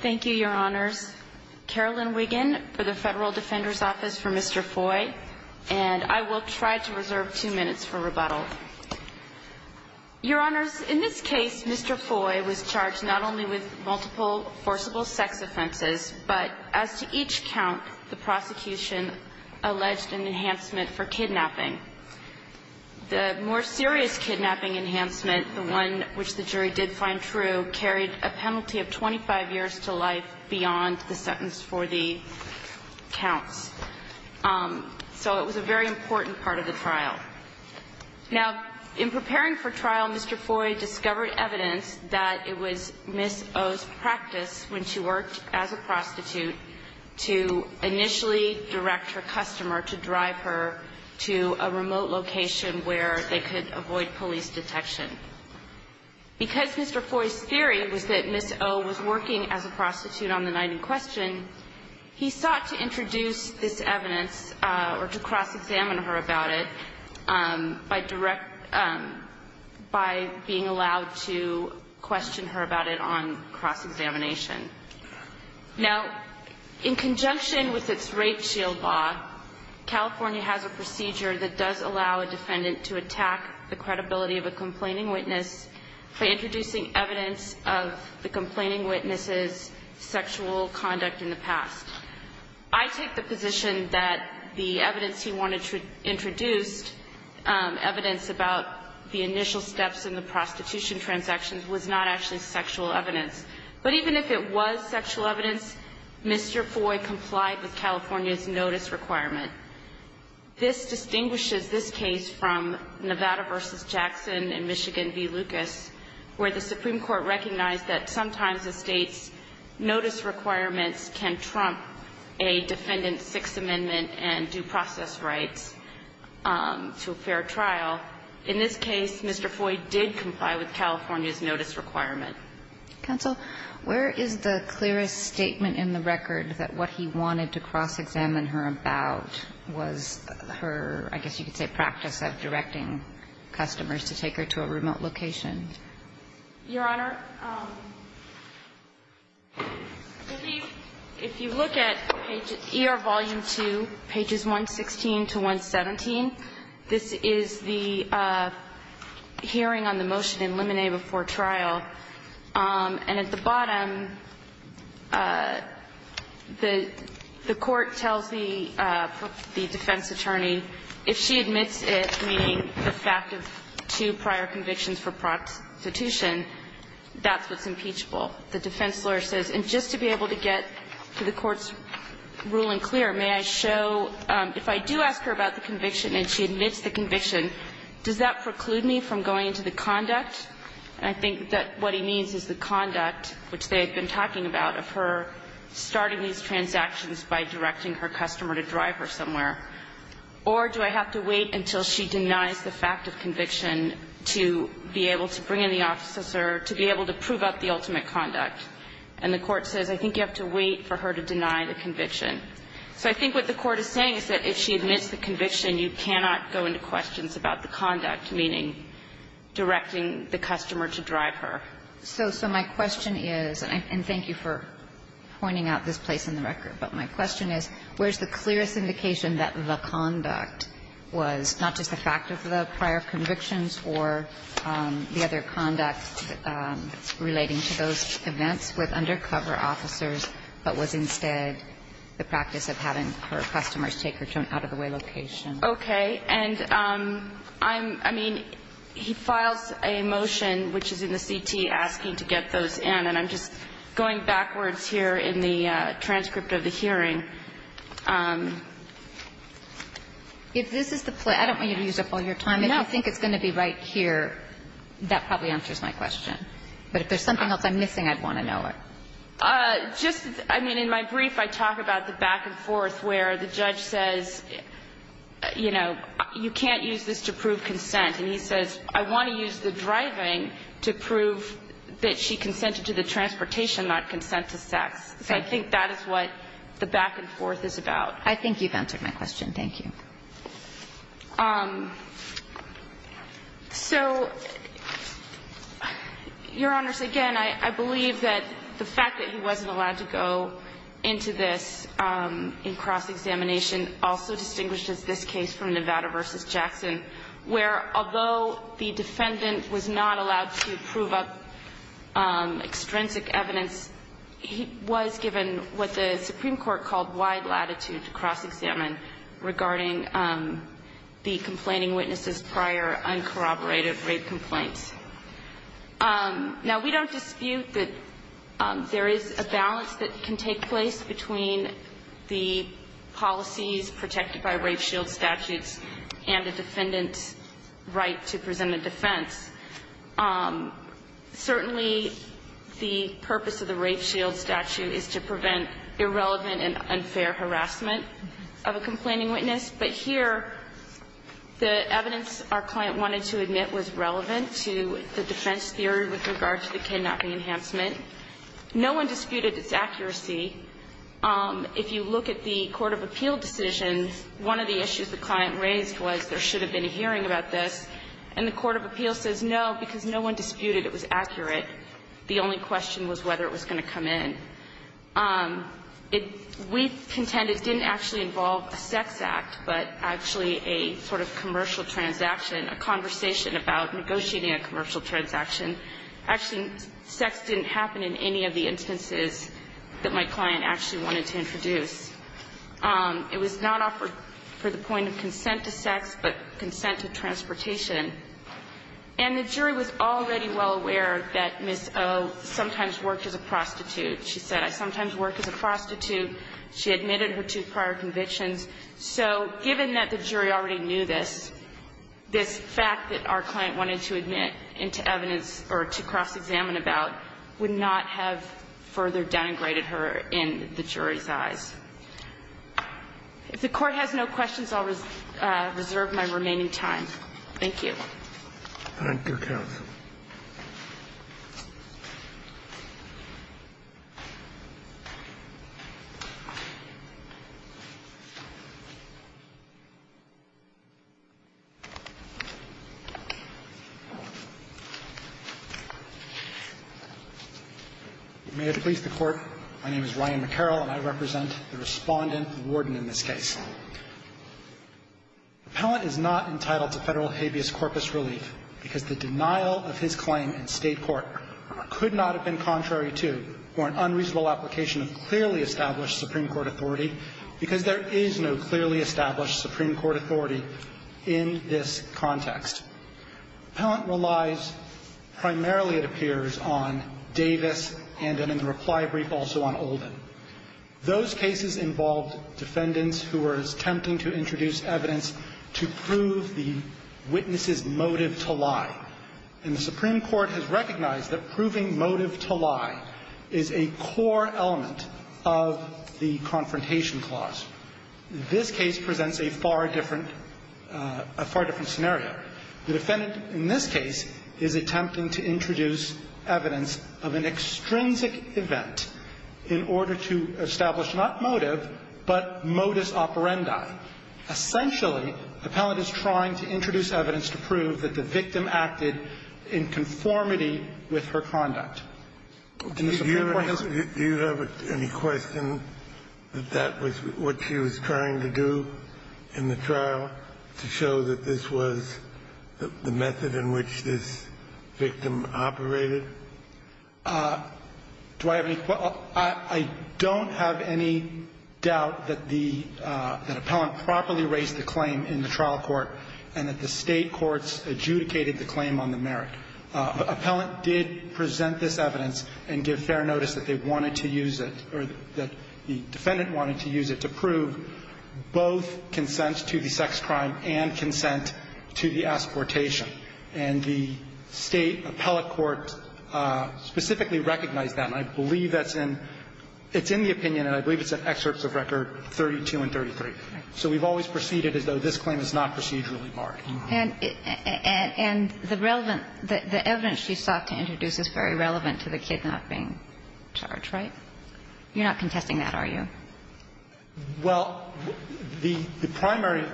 Thank you, Your Honors. Carolyn Wiggin for the Federal Defender's Office for Mr. Foy, and I will try to reserve two minutes for rebuttal. Your Honors, in this case, Mr. Foy was charged not only with multiple forcible sex offenses, but as to each count, the prosecution alleged an enhancement for kidnapping. The more serious kidnapping enhancement, the one which the jury did find true, carried a penalty of 25 years to life beyond the sentence for the counts. So it was a very important part of the trial. Now, in preparing for trial, Mr. Foy discovered evidence that it was Ms. O's practice when she worked as a prostitute to initially direct her customer to drive her to a remote location where they could avoid police detection. Because Mr. Foy's theory was that Ms. O was working as a prostitute on the night in question, he sought to introduce this evidence or to cross-examine her about it by being allowed to question her about it on cross-examination. Now, in conjunction with its rape shield law, California has a procedure that does allow a defendant to attack the credibility of a complaining witness by introducing evidence of the complaining witness's sexual conduct in the past. I take the position that the evidence he wanted to introduce, evidence about the initial steps in the prostitution transactions, was not actually sexual evidence. But even if it was sexual evidence, Mr. Foy complied with California's notice requirement. This distinguishes this case from Nevada v. Jackson and Michigan v. Lucas, where the Supreme Court recognized that sometimes a State's notice requirements can trump a defendant's Sixth Amendment and due process rights to a fair trial. In this case, Mr. Foy did comply with California's notice requirement. Counsel, where is the clearest statement in the record that what he wanted to cross-examine her about was her, I guess you could say, practice of directing customers to take her to a remote location? Your Honor, if you look at page ER volume 2, pages 116 to 117, this is the hearing on the motion in limine before trial. And at the bottom, the court tells the defense attorney, if she admits it, meaning the fact of two prior convictions for prostitution, that's what's impeachable. The defense lawyer says, and just to be able to get to the court's ruling clear, may I show, if I do ask her about the conviction and she admits the conviction, does that preclude me from going into the conduct? And I think that what he means is the conduct, which they had been talking about, of her starting these transactions by directing her customer to drive her somewhere. Or do I have to wait until she denies the fact of conviction to be able to bring in the officer, to be able to prove up the ultimate conduct? And the court says, I think you have to wait for her to deny the conviction. So I think what the court is saying is that if she admits the conviction, you cannot go into questions about the conduct, meaning directing the customer to drive her. So my question is, and thank you for pointing out this place in the record. But my question is, where's the clearest indication that the conduct was not just the fact of the prior convictions or the other conduct relating to those events with undercover officers, but was instead the practice of having her customers take her to an out-of-the-way location? Okay. And I'm, I mean, he files a motion, which is in the CT, asking to get those in. And I'm just going backwards here in the transcript of the hearing. If this is the place, I don't want you to use up all your time. If you think it's going to be right here, that probably answers my question. But if there's something else I'm missing, I'd want to know it. Just, I mean, in my brief, I talk about the back and forth where the judge says, you know, you can't use this to prove consent. And he says, I want to use the driving to prove that she consented to the transportation, not consent to sex. So I think that is what the back and forth is about. I think you've answered my question. Thank you. So, Your Honors, again, I believe that the fact that he wasn't allowed to go into this in cross-examination also distinguishes this case from Nevada v. Jackson, where although the defendant was not allowed to prove up extrinsic evidence, he was given what the Supreme Court called wide latitude to cross-examine regarding the complaining witness's prior uncorroborated rape complaints. Now, we don't dispute that there is a balance that can take place between the policies protected by rape shield statutes and the defendant's right to present a defense. Certainly, the purpose of the rape shield statute is to prevent irrelevant and unfair harassment of a complaining witness. But here, the evidence our client wanted to admit was relevant to the defense theory with regard to the kidnapping enhancement. No one disputed its accuracy. If you look at the court of appeal decision, one of the issues the client raised was there should have been a hearing about this. And the court of appeal says no, because no one disputed it was accurate. The only question was whether it was going to come in. We contended it didn't actually involve a sex act, but actually a sort of commercial transaction, a conversation about negotiating a commercial transaction. Actually, sex didn't happen in any of the instances that my client actually wanted to introduce. It was not offered for the point of consent to sex, but consent to transportation. And the jury was already well aware that Ms. O sometimes worked as a prostitute. She said, I sometimes work as a prostitute. She admitted her two prior convictions. So given that the jury already knew this, this fact that our client wanted to admit into evidence or to cross-examine about would not have further denigrated her in the jury's eyes. If the Court has no questions, I'll reserve my remaining time. Thank you. Thank you, counsel. May it please the Court. My name is Ryan McCarroll, and I represent the Respondent, the Warden in this case. The appellant is not entitled to federal habeas corpus relief because the denial of his claim in state court could not have been contrary to or an unreasonable application of clearly established Supreme Court authority because there is no clearly established Supreme Court authority in this context. The appellant relies primarily, it appears, on Davis and in the reply brief also on Olden. Those cases involved defendants who were attempting to introduce evidence to prove the witness's motive to lie. And the Supreme Court has recognized that proving motive to lie is a core element of the Confrontation Clause. This case presents a far different scenario. The defendant in this case is attempting to introduce evidence of an extrinsic event in order to establish not motive, but modus operandi. Essentially, the appellant is trying to introduce evidence to prove that the victim acted in conformity with her conduct. Do you have any question that that was what she was trying to do in the trial, to show that this was the method in which this victim operated? Do I have any question? I don't have any doubt that the appellant properly raised the claim in the trial court and that the state courts adjudicated the claim on the merit. Appellant did present this evidence and give fair notice that they wanted to use it or that the defendant wanted to use it to prove both consents to the sex crime and consent to the asportation. And the State appellate court specifically recognized that. And I believe that's in the opinion, and I believe it's in excerpts of record 32 and 33. So we've always proceeded as though this claim is not procedurally marred. And the relevant, the evidence she sought to introduce is very relevant to the kidnapping charge, right? You're not contesting that, are you? Well, the primary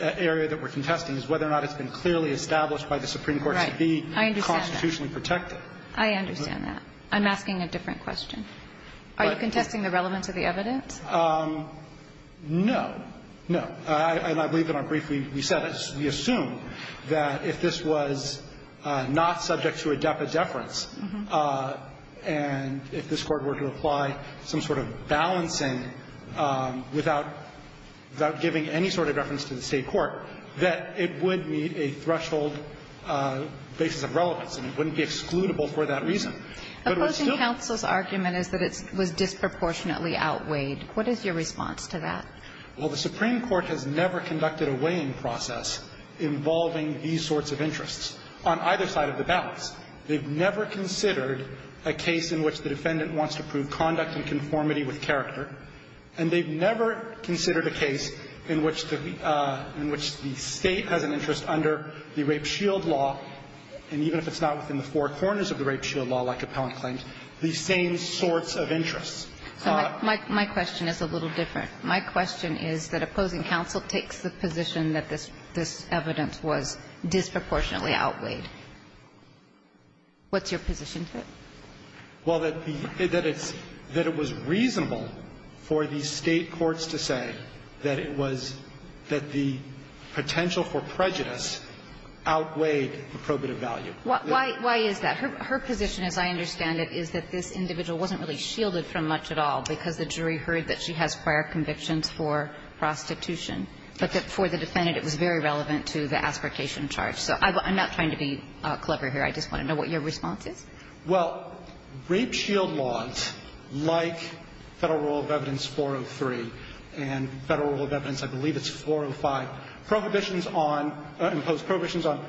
area that we're contesting is whether or not it's been clearly established by the Supreme Court to be constitutionally protected. I understand that. I'm asking a different question. Are you contesting the relevance of the evidence? No. No. And I believe in our brief we said, we assumed that if this was not subject to a deference and if this Court were to apply some sort of balancing without giving any sort of reference to the State court, that it would meet a threshold basis of relevance and it wouldn't be excludable for that reason. Opposing counsel's argument is that it was disproportionately outweighed. What is your response to that? Well, the Supreme Court has never conducted a weighing process involving these sorts of interests on either side of the balance. They've never considered a case in which the defendant wants to prove conduct and conformity with character, and they've never considered a case in which the State has an interest under the Rape Shield Law, and even if it's not within the four corners of the Rape Shield Law, like Appellant claimed, the same sorts of interests. So my question is a little different. My question is that opposing counsel takes the position that this evidence was disproportionately outweighed. What's your position to it? Well, that it was reasonable for the State courts to say that it was, that the potential for prejudice outweighed the probative value. Why is that? Her position, as I understand it, is that this individual wasn't really shielded from much at all, because the jury heard that she has prior convictions for prostitution. But that for the defendant, it was very relevant to the aspiratation charge. So I'm not trying to be clever here. I just want to know what your response is. Well, Rape Shield Laws, like Federal Rule of Evidence 403 and Federal Rule of Evidence, I believe it's 405, prohibitions on, impose prohibitions on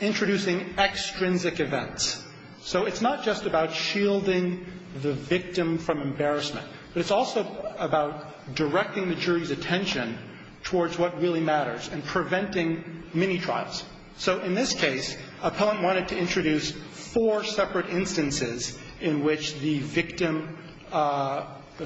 introducing extrinsic events. So it's not just about shielding the victim from embarrassment, but it's also about directing the jury's attention towards what really matters and preventing mini-trials. So in this case, Appellant wanted to introduce four separate instances in which the victim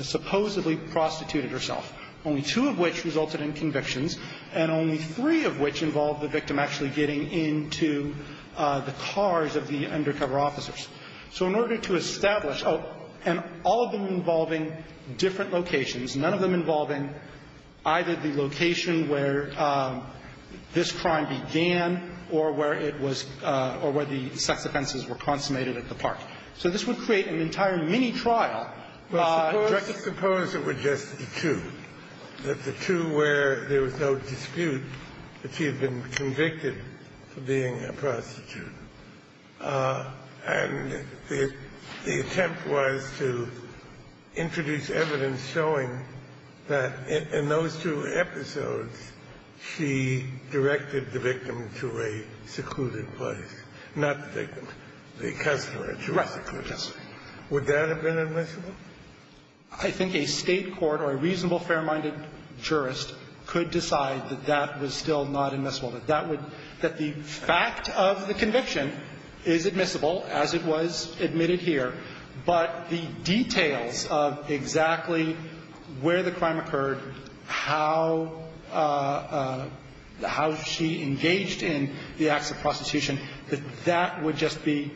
supposedly prostituted herself, only two of which resulted in convictions and only three of which involved the victim actually getting into the cars of the undercover officers. So in order to establish, and all of them involving different locations, none of them involving either the location where this crime began or where it was, or where the sex offenses were consummated at the park. So this would create an entire mini-trial. But suppose it were just the two, that the two where there was no dispute that she had been convicted for being a prostitute, and the attempt was to introduce evidence showing that in those two episodes, she directed the victim to a secluded place, not the victim, the customer, to a secluded place, would that have been a mistake? I think a State court or a reasonable, fair-minded jurist could decide that that was still not admissible, that that would, that the fact of the conviction is admissible, as it was admitted here, but the details of exactly where the crime occurred, how she engaged in the acts of prostitution, that that would just be,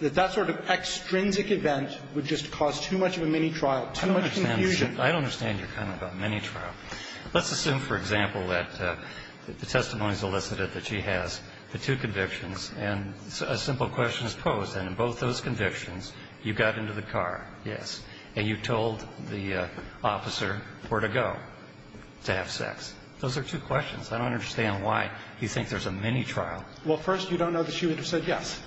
that sort of extrinsic event would just cause too much of a mini-trial, too much confusion. I don't understand your comment about mini-trial. Let's assume, for example, that the testimony is elicited that she has the two convictions, and a simple question is posed. And in both those convictions, you got into the car, yes. And you told the officer where to go to have sex. Those are two questions. I don't understand why you think there's a mini-trial. Well, first, you don't know that she would have said yes.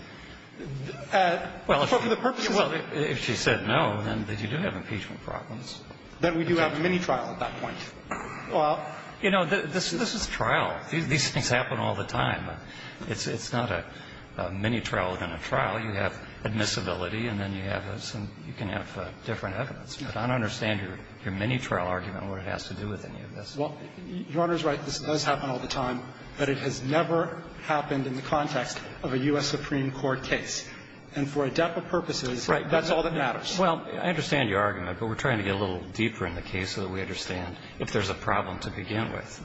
Well, if she said no, then you do have impeachment problems. Then we do have a mini-trial at that point. Well, you know, this is trial. These things happen all the time. It's not a mini-trial within a trial. You have admissibility, and then you have some, you can have different evidence. But I don't understand your mini-trial argument or what it has to do with any of this. Well, Your Honor is right. This does happen all the time. But it has never happened in the context of a U.S. Supreme Court case. And for a depth of purposes, that's all that matters. Right. Well, I understand your argument, but we're trying to get a little deeper in the case so that we understand if there's a problem to begin with.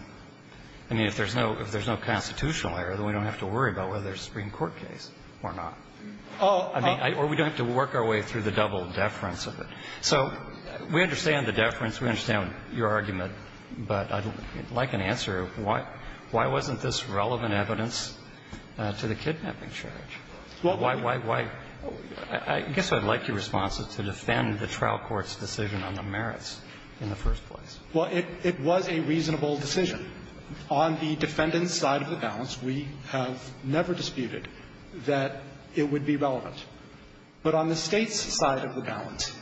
I mean, if there's no constitutional error, then we don't have to worry about whether it's a Supreme Court case or not. I mean, or we don't have to work our way through the double deference of it. So we understand the deference. We understand your argument. But I'd like an answer. Why wasn't this relevant evidence to the kidnapping charge? Why, why, why? I guess I'd like your response is to defend the trial court's decision on the merits in the first place. Well, it was a reasonable decision. On the defendant's side of the balance, we have never disputed that it would be relevant. But on the State's side of the balance,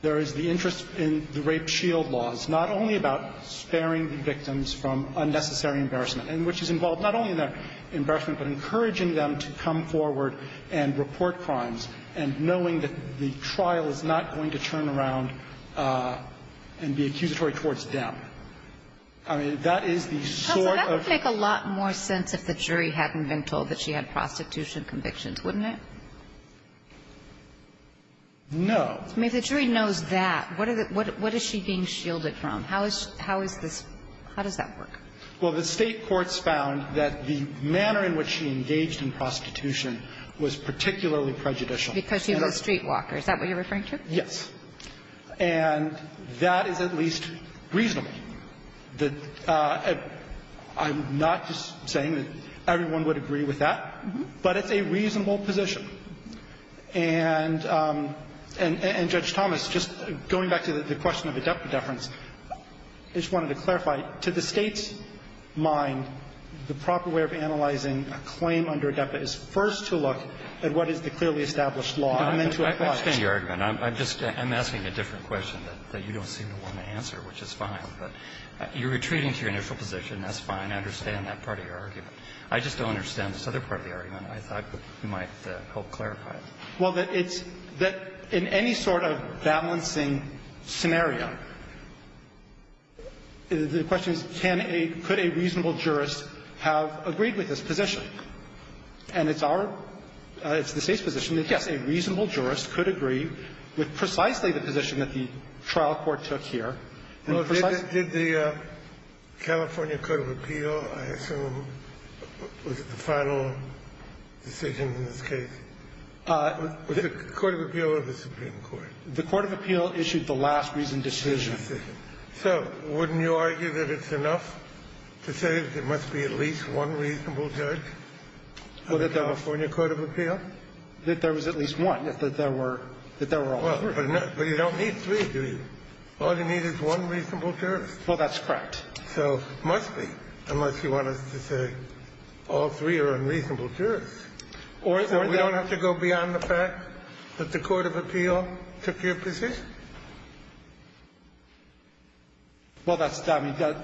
there is the interest in the rape shield laws, not only about sparing the victims from unnecessary embarrassment, and which is involved not only in their embarrassment, but encouraging them to come forward and report crimes, and knowing that the trial is not going to turn around and be accusatory towards them. I mean, that is the sort of ---- Counsel, that would make a lot more sense if the jury hadn't been told that she had prostitution convictions, wouldn't it? No. I mean, if the jury knows that, what is she being shielded from? How is this ---- how does that work? Well, the State courts found that the manner in which she engaged in prostitution was particularly prejudicial. Because she was a streetwalker. Is that what you're referring to? Yes. And that is at least reasonable. I'm not just saying that everyone would agree with that. But it's a reasonable position. And Judge Thomas, just going back to the question of adepta deference, I just wanted to clarify, to the State's mind, the proper way of analyzing a claim under adepta is first to look at what is the clearly established law and then to apply it. I understand your argument. I'm just ---- I'm asking a different question that you don't seem to want to answer, which is fine. But you're retreating to your initial position. That's fine. I understand that part of your argument. I just don't understand this other part of the argument. I thought you might help clarify it. Well, that it's ---- that in any sort of balancing scenario, the question is can a ---- could a reasonable jurist have agreed with this position. And it's our ---- it's the State's position that, yes, a reasonable jurist could agree with precisely the position that the trial court took here. And precisely ---- Well, did the California Court of Appeal, I assume, was it the final decision in this case? Was it the Court of Appeal or the Supreme Court? The Court of Appeal issued the last reasoned decision. So wouldn't you argue that it's enough to say that there must be at least one reasonable judge on the California Court of Appeal? That there was at least one, that there were all three. Well, but you don't need three, do you? All you need is one reasonable jurist. Well, that's correct. So it must be, unless you want us to say all three are unreasonable jurists. So we don't have to go beyond the fact that the Court of Appeal took your position? So the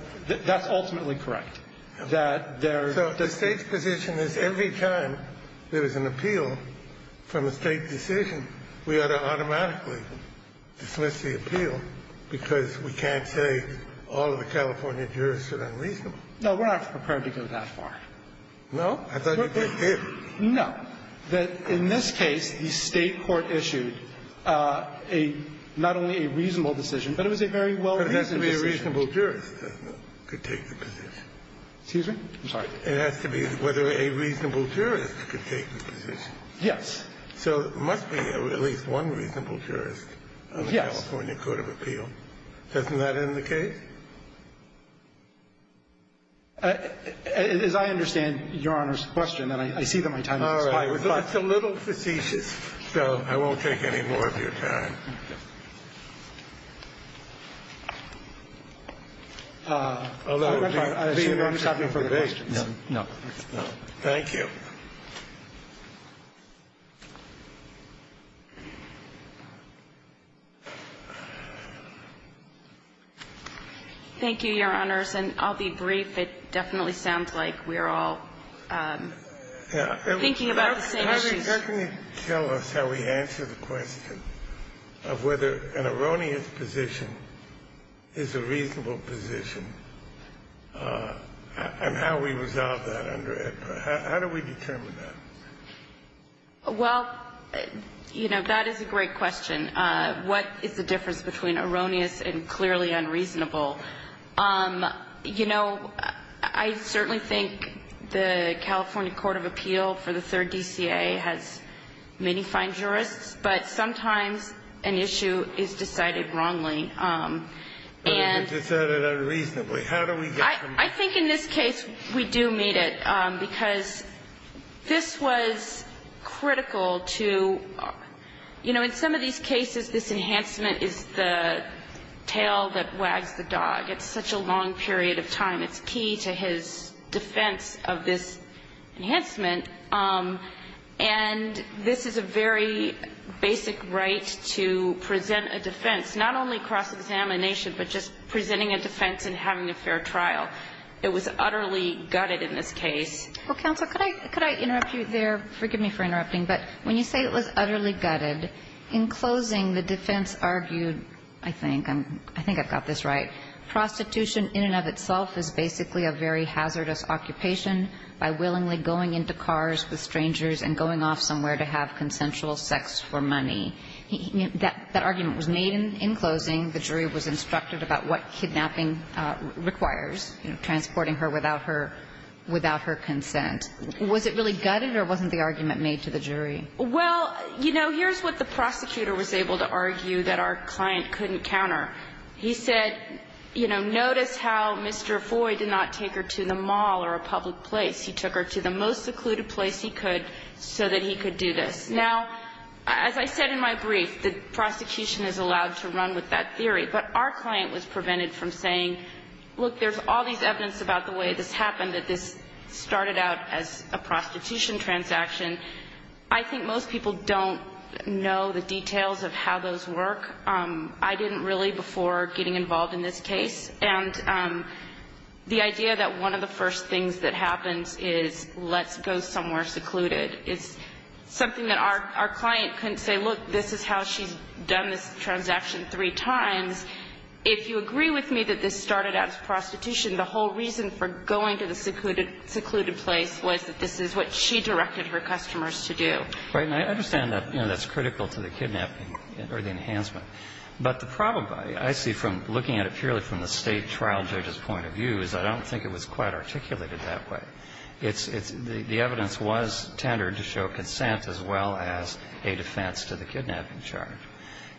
State's position is every time there is an appeal from a State decision, we ought to automatically dismiss the appeal, because we can't say all of the California jurists are unreasonable. No, we're not prepared to go that far. No? I thought you were prepared. No. That in this case, the State court issued a ---- not only a reasonable decision, but it was a very well-reasoned decision. But it has to be a reasonable jurist that could take the position. Excuse me? I'm sorry. It has to be whether a reasonable jurist could take the position. Yes. So there must be at least one reasonable jurist on the California Court of Appeal. Yes. Doesn't that end the case? As I understand Your Honor's question, and I see that my time has expired. All right. It's a little facetious, so I won't take any more of your time. Thank you. Thank you, Your Honors, and I'll be brief. It definitely sounds like we're all thinking about the same issues. Can you tell us how we answer the question of whether an erroneous position is a reasonable position, and how we resolve that under AEDPA? How do we determine that? Well, you know, that is a great question. What is the difference between erroneous and clearly unreasonable? You know, I certainly think the California Court of Appeal for the Third DCA has many fine jurists, but sometimes an issue is decided wrongly. And you just said it unreasonably. How do we get from there? I think in this case we do meet it, because this was critical to, you know, in some of these cases this enhancement is the tail that wags the dog. It's such a long period of time. It's key to his defense of this enhancement. And this is a very basic right to present a defense, not only cross-examination, but just presenting a defense and having a fair trial. It was utterly gutted in this case. Well, counsel, could I interrupt you there? Forgive me for interrupting. But when you say it was utterly gutted, in closing the defense argued, I think I'm – I think I've got this right, prostitution in and of itself is basically a very hazardous occupation by willingly going into cars with strangers and going off somewhere to have consensual sex for money. That argument was made in closing. The jury was instructed about what kidnapping requires, you know, transporting her without her consent. Was it really gutted or wasn't the argument made to the jury? Well, you know, here's what the prosecutor was able to argue that our client couldn't counter. He said, you know, notice how Mr. Foy did not take her to the mall or a public place. He took her to the most secluded place he could so that he could do this. Now, as I said in my brief, the prosecution is allowed to run with that theory. But our client was prevented from saying, look, there's all these evidence about the way this happened, that this started out as a prostitution transaction. I think most people don't know the details of how those work. I didn't really before getting involved in this case. And the idea that one of the first things that happens is let's go somewhere secluded is something that our client couldn't say, look, this is how she's done this transaction three times. If you agree with me that this started out as prostitution, the whole reason for going to the secluded place was that this is what she directed her customers to do. Right. And I understand that, you know, that's critical to the kidnapping or the enhancement. But the problem I see from looking at it purely from the State trial judge's point of view is I don't think it was quite articulated that way. It's the evidence was tendered to show consent as well as a defense to the kidnapping charge.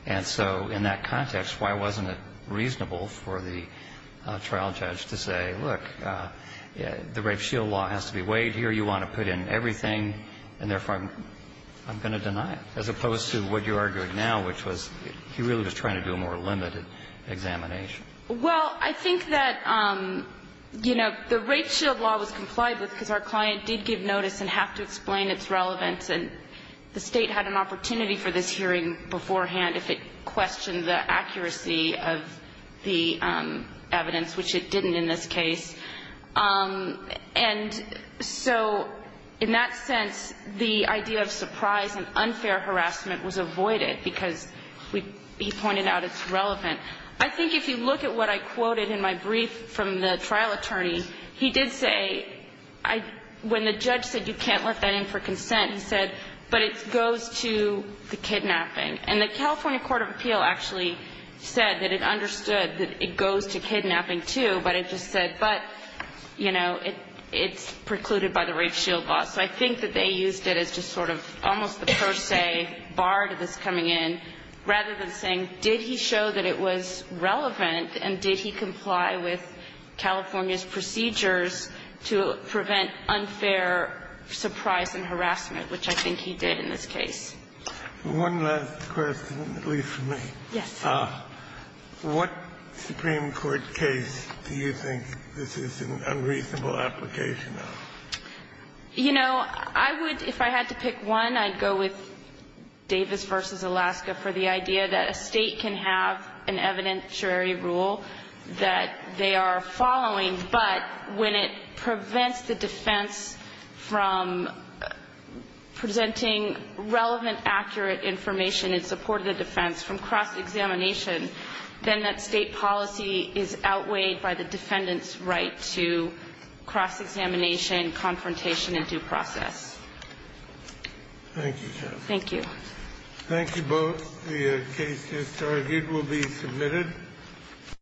And so in that context, why wasn't it reasonable for the trial judge to say, look, the rape shield law has to be weighed here. You want to put in everything, and therefore I'm going to deny it, as opposed to what you're arguing now, which was he really was trying to do a more limited examination. Well, I think that, you know, the rape shield law was complied with because our client did give notice and have to explain its relevance. And the State had an opportunity for this hearing beforehand if it questioned the accuracy of the evidence, which it didn't in this case. And so in that sense, the idea of surprise and unfair harassment was avoided because he pointed out it's relevant. I think if you look at what I quoted in my brief from the trial attorney, he did say, when the judge said you can't let that in for consent, he said, but it goes to the kidnapping. And the California Court of Appeal actually said that it understood that it goes to kidnapping, too, but it just said, but, you know, it's precluded by the rape shield law. So I think that they used it as just sort of almost the per se bar to this coming in, rather than saying, did he show that it was relevant, and did he comply with it to prevent unfair surprise and harassment, which I think he did in this case. One last question, at least for me. Yes. What Supreme Court case do you think this is an unreasonable application of? You know, I would, if I had to pick one, I'd go with Davis v. Alaska for the idea that a State can have an evidentiary rule that they are following, but when it prevents the defense from presenting relevant, accurate information in support of the defense from cross-examination, then that State policy is outweighed by the defendant's right to cross-examination, confrontation, and due process. Thank you. Thank you. Thank you both. The case is targeted. It will be submitted.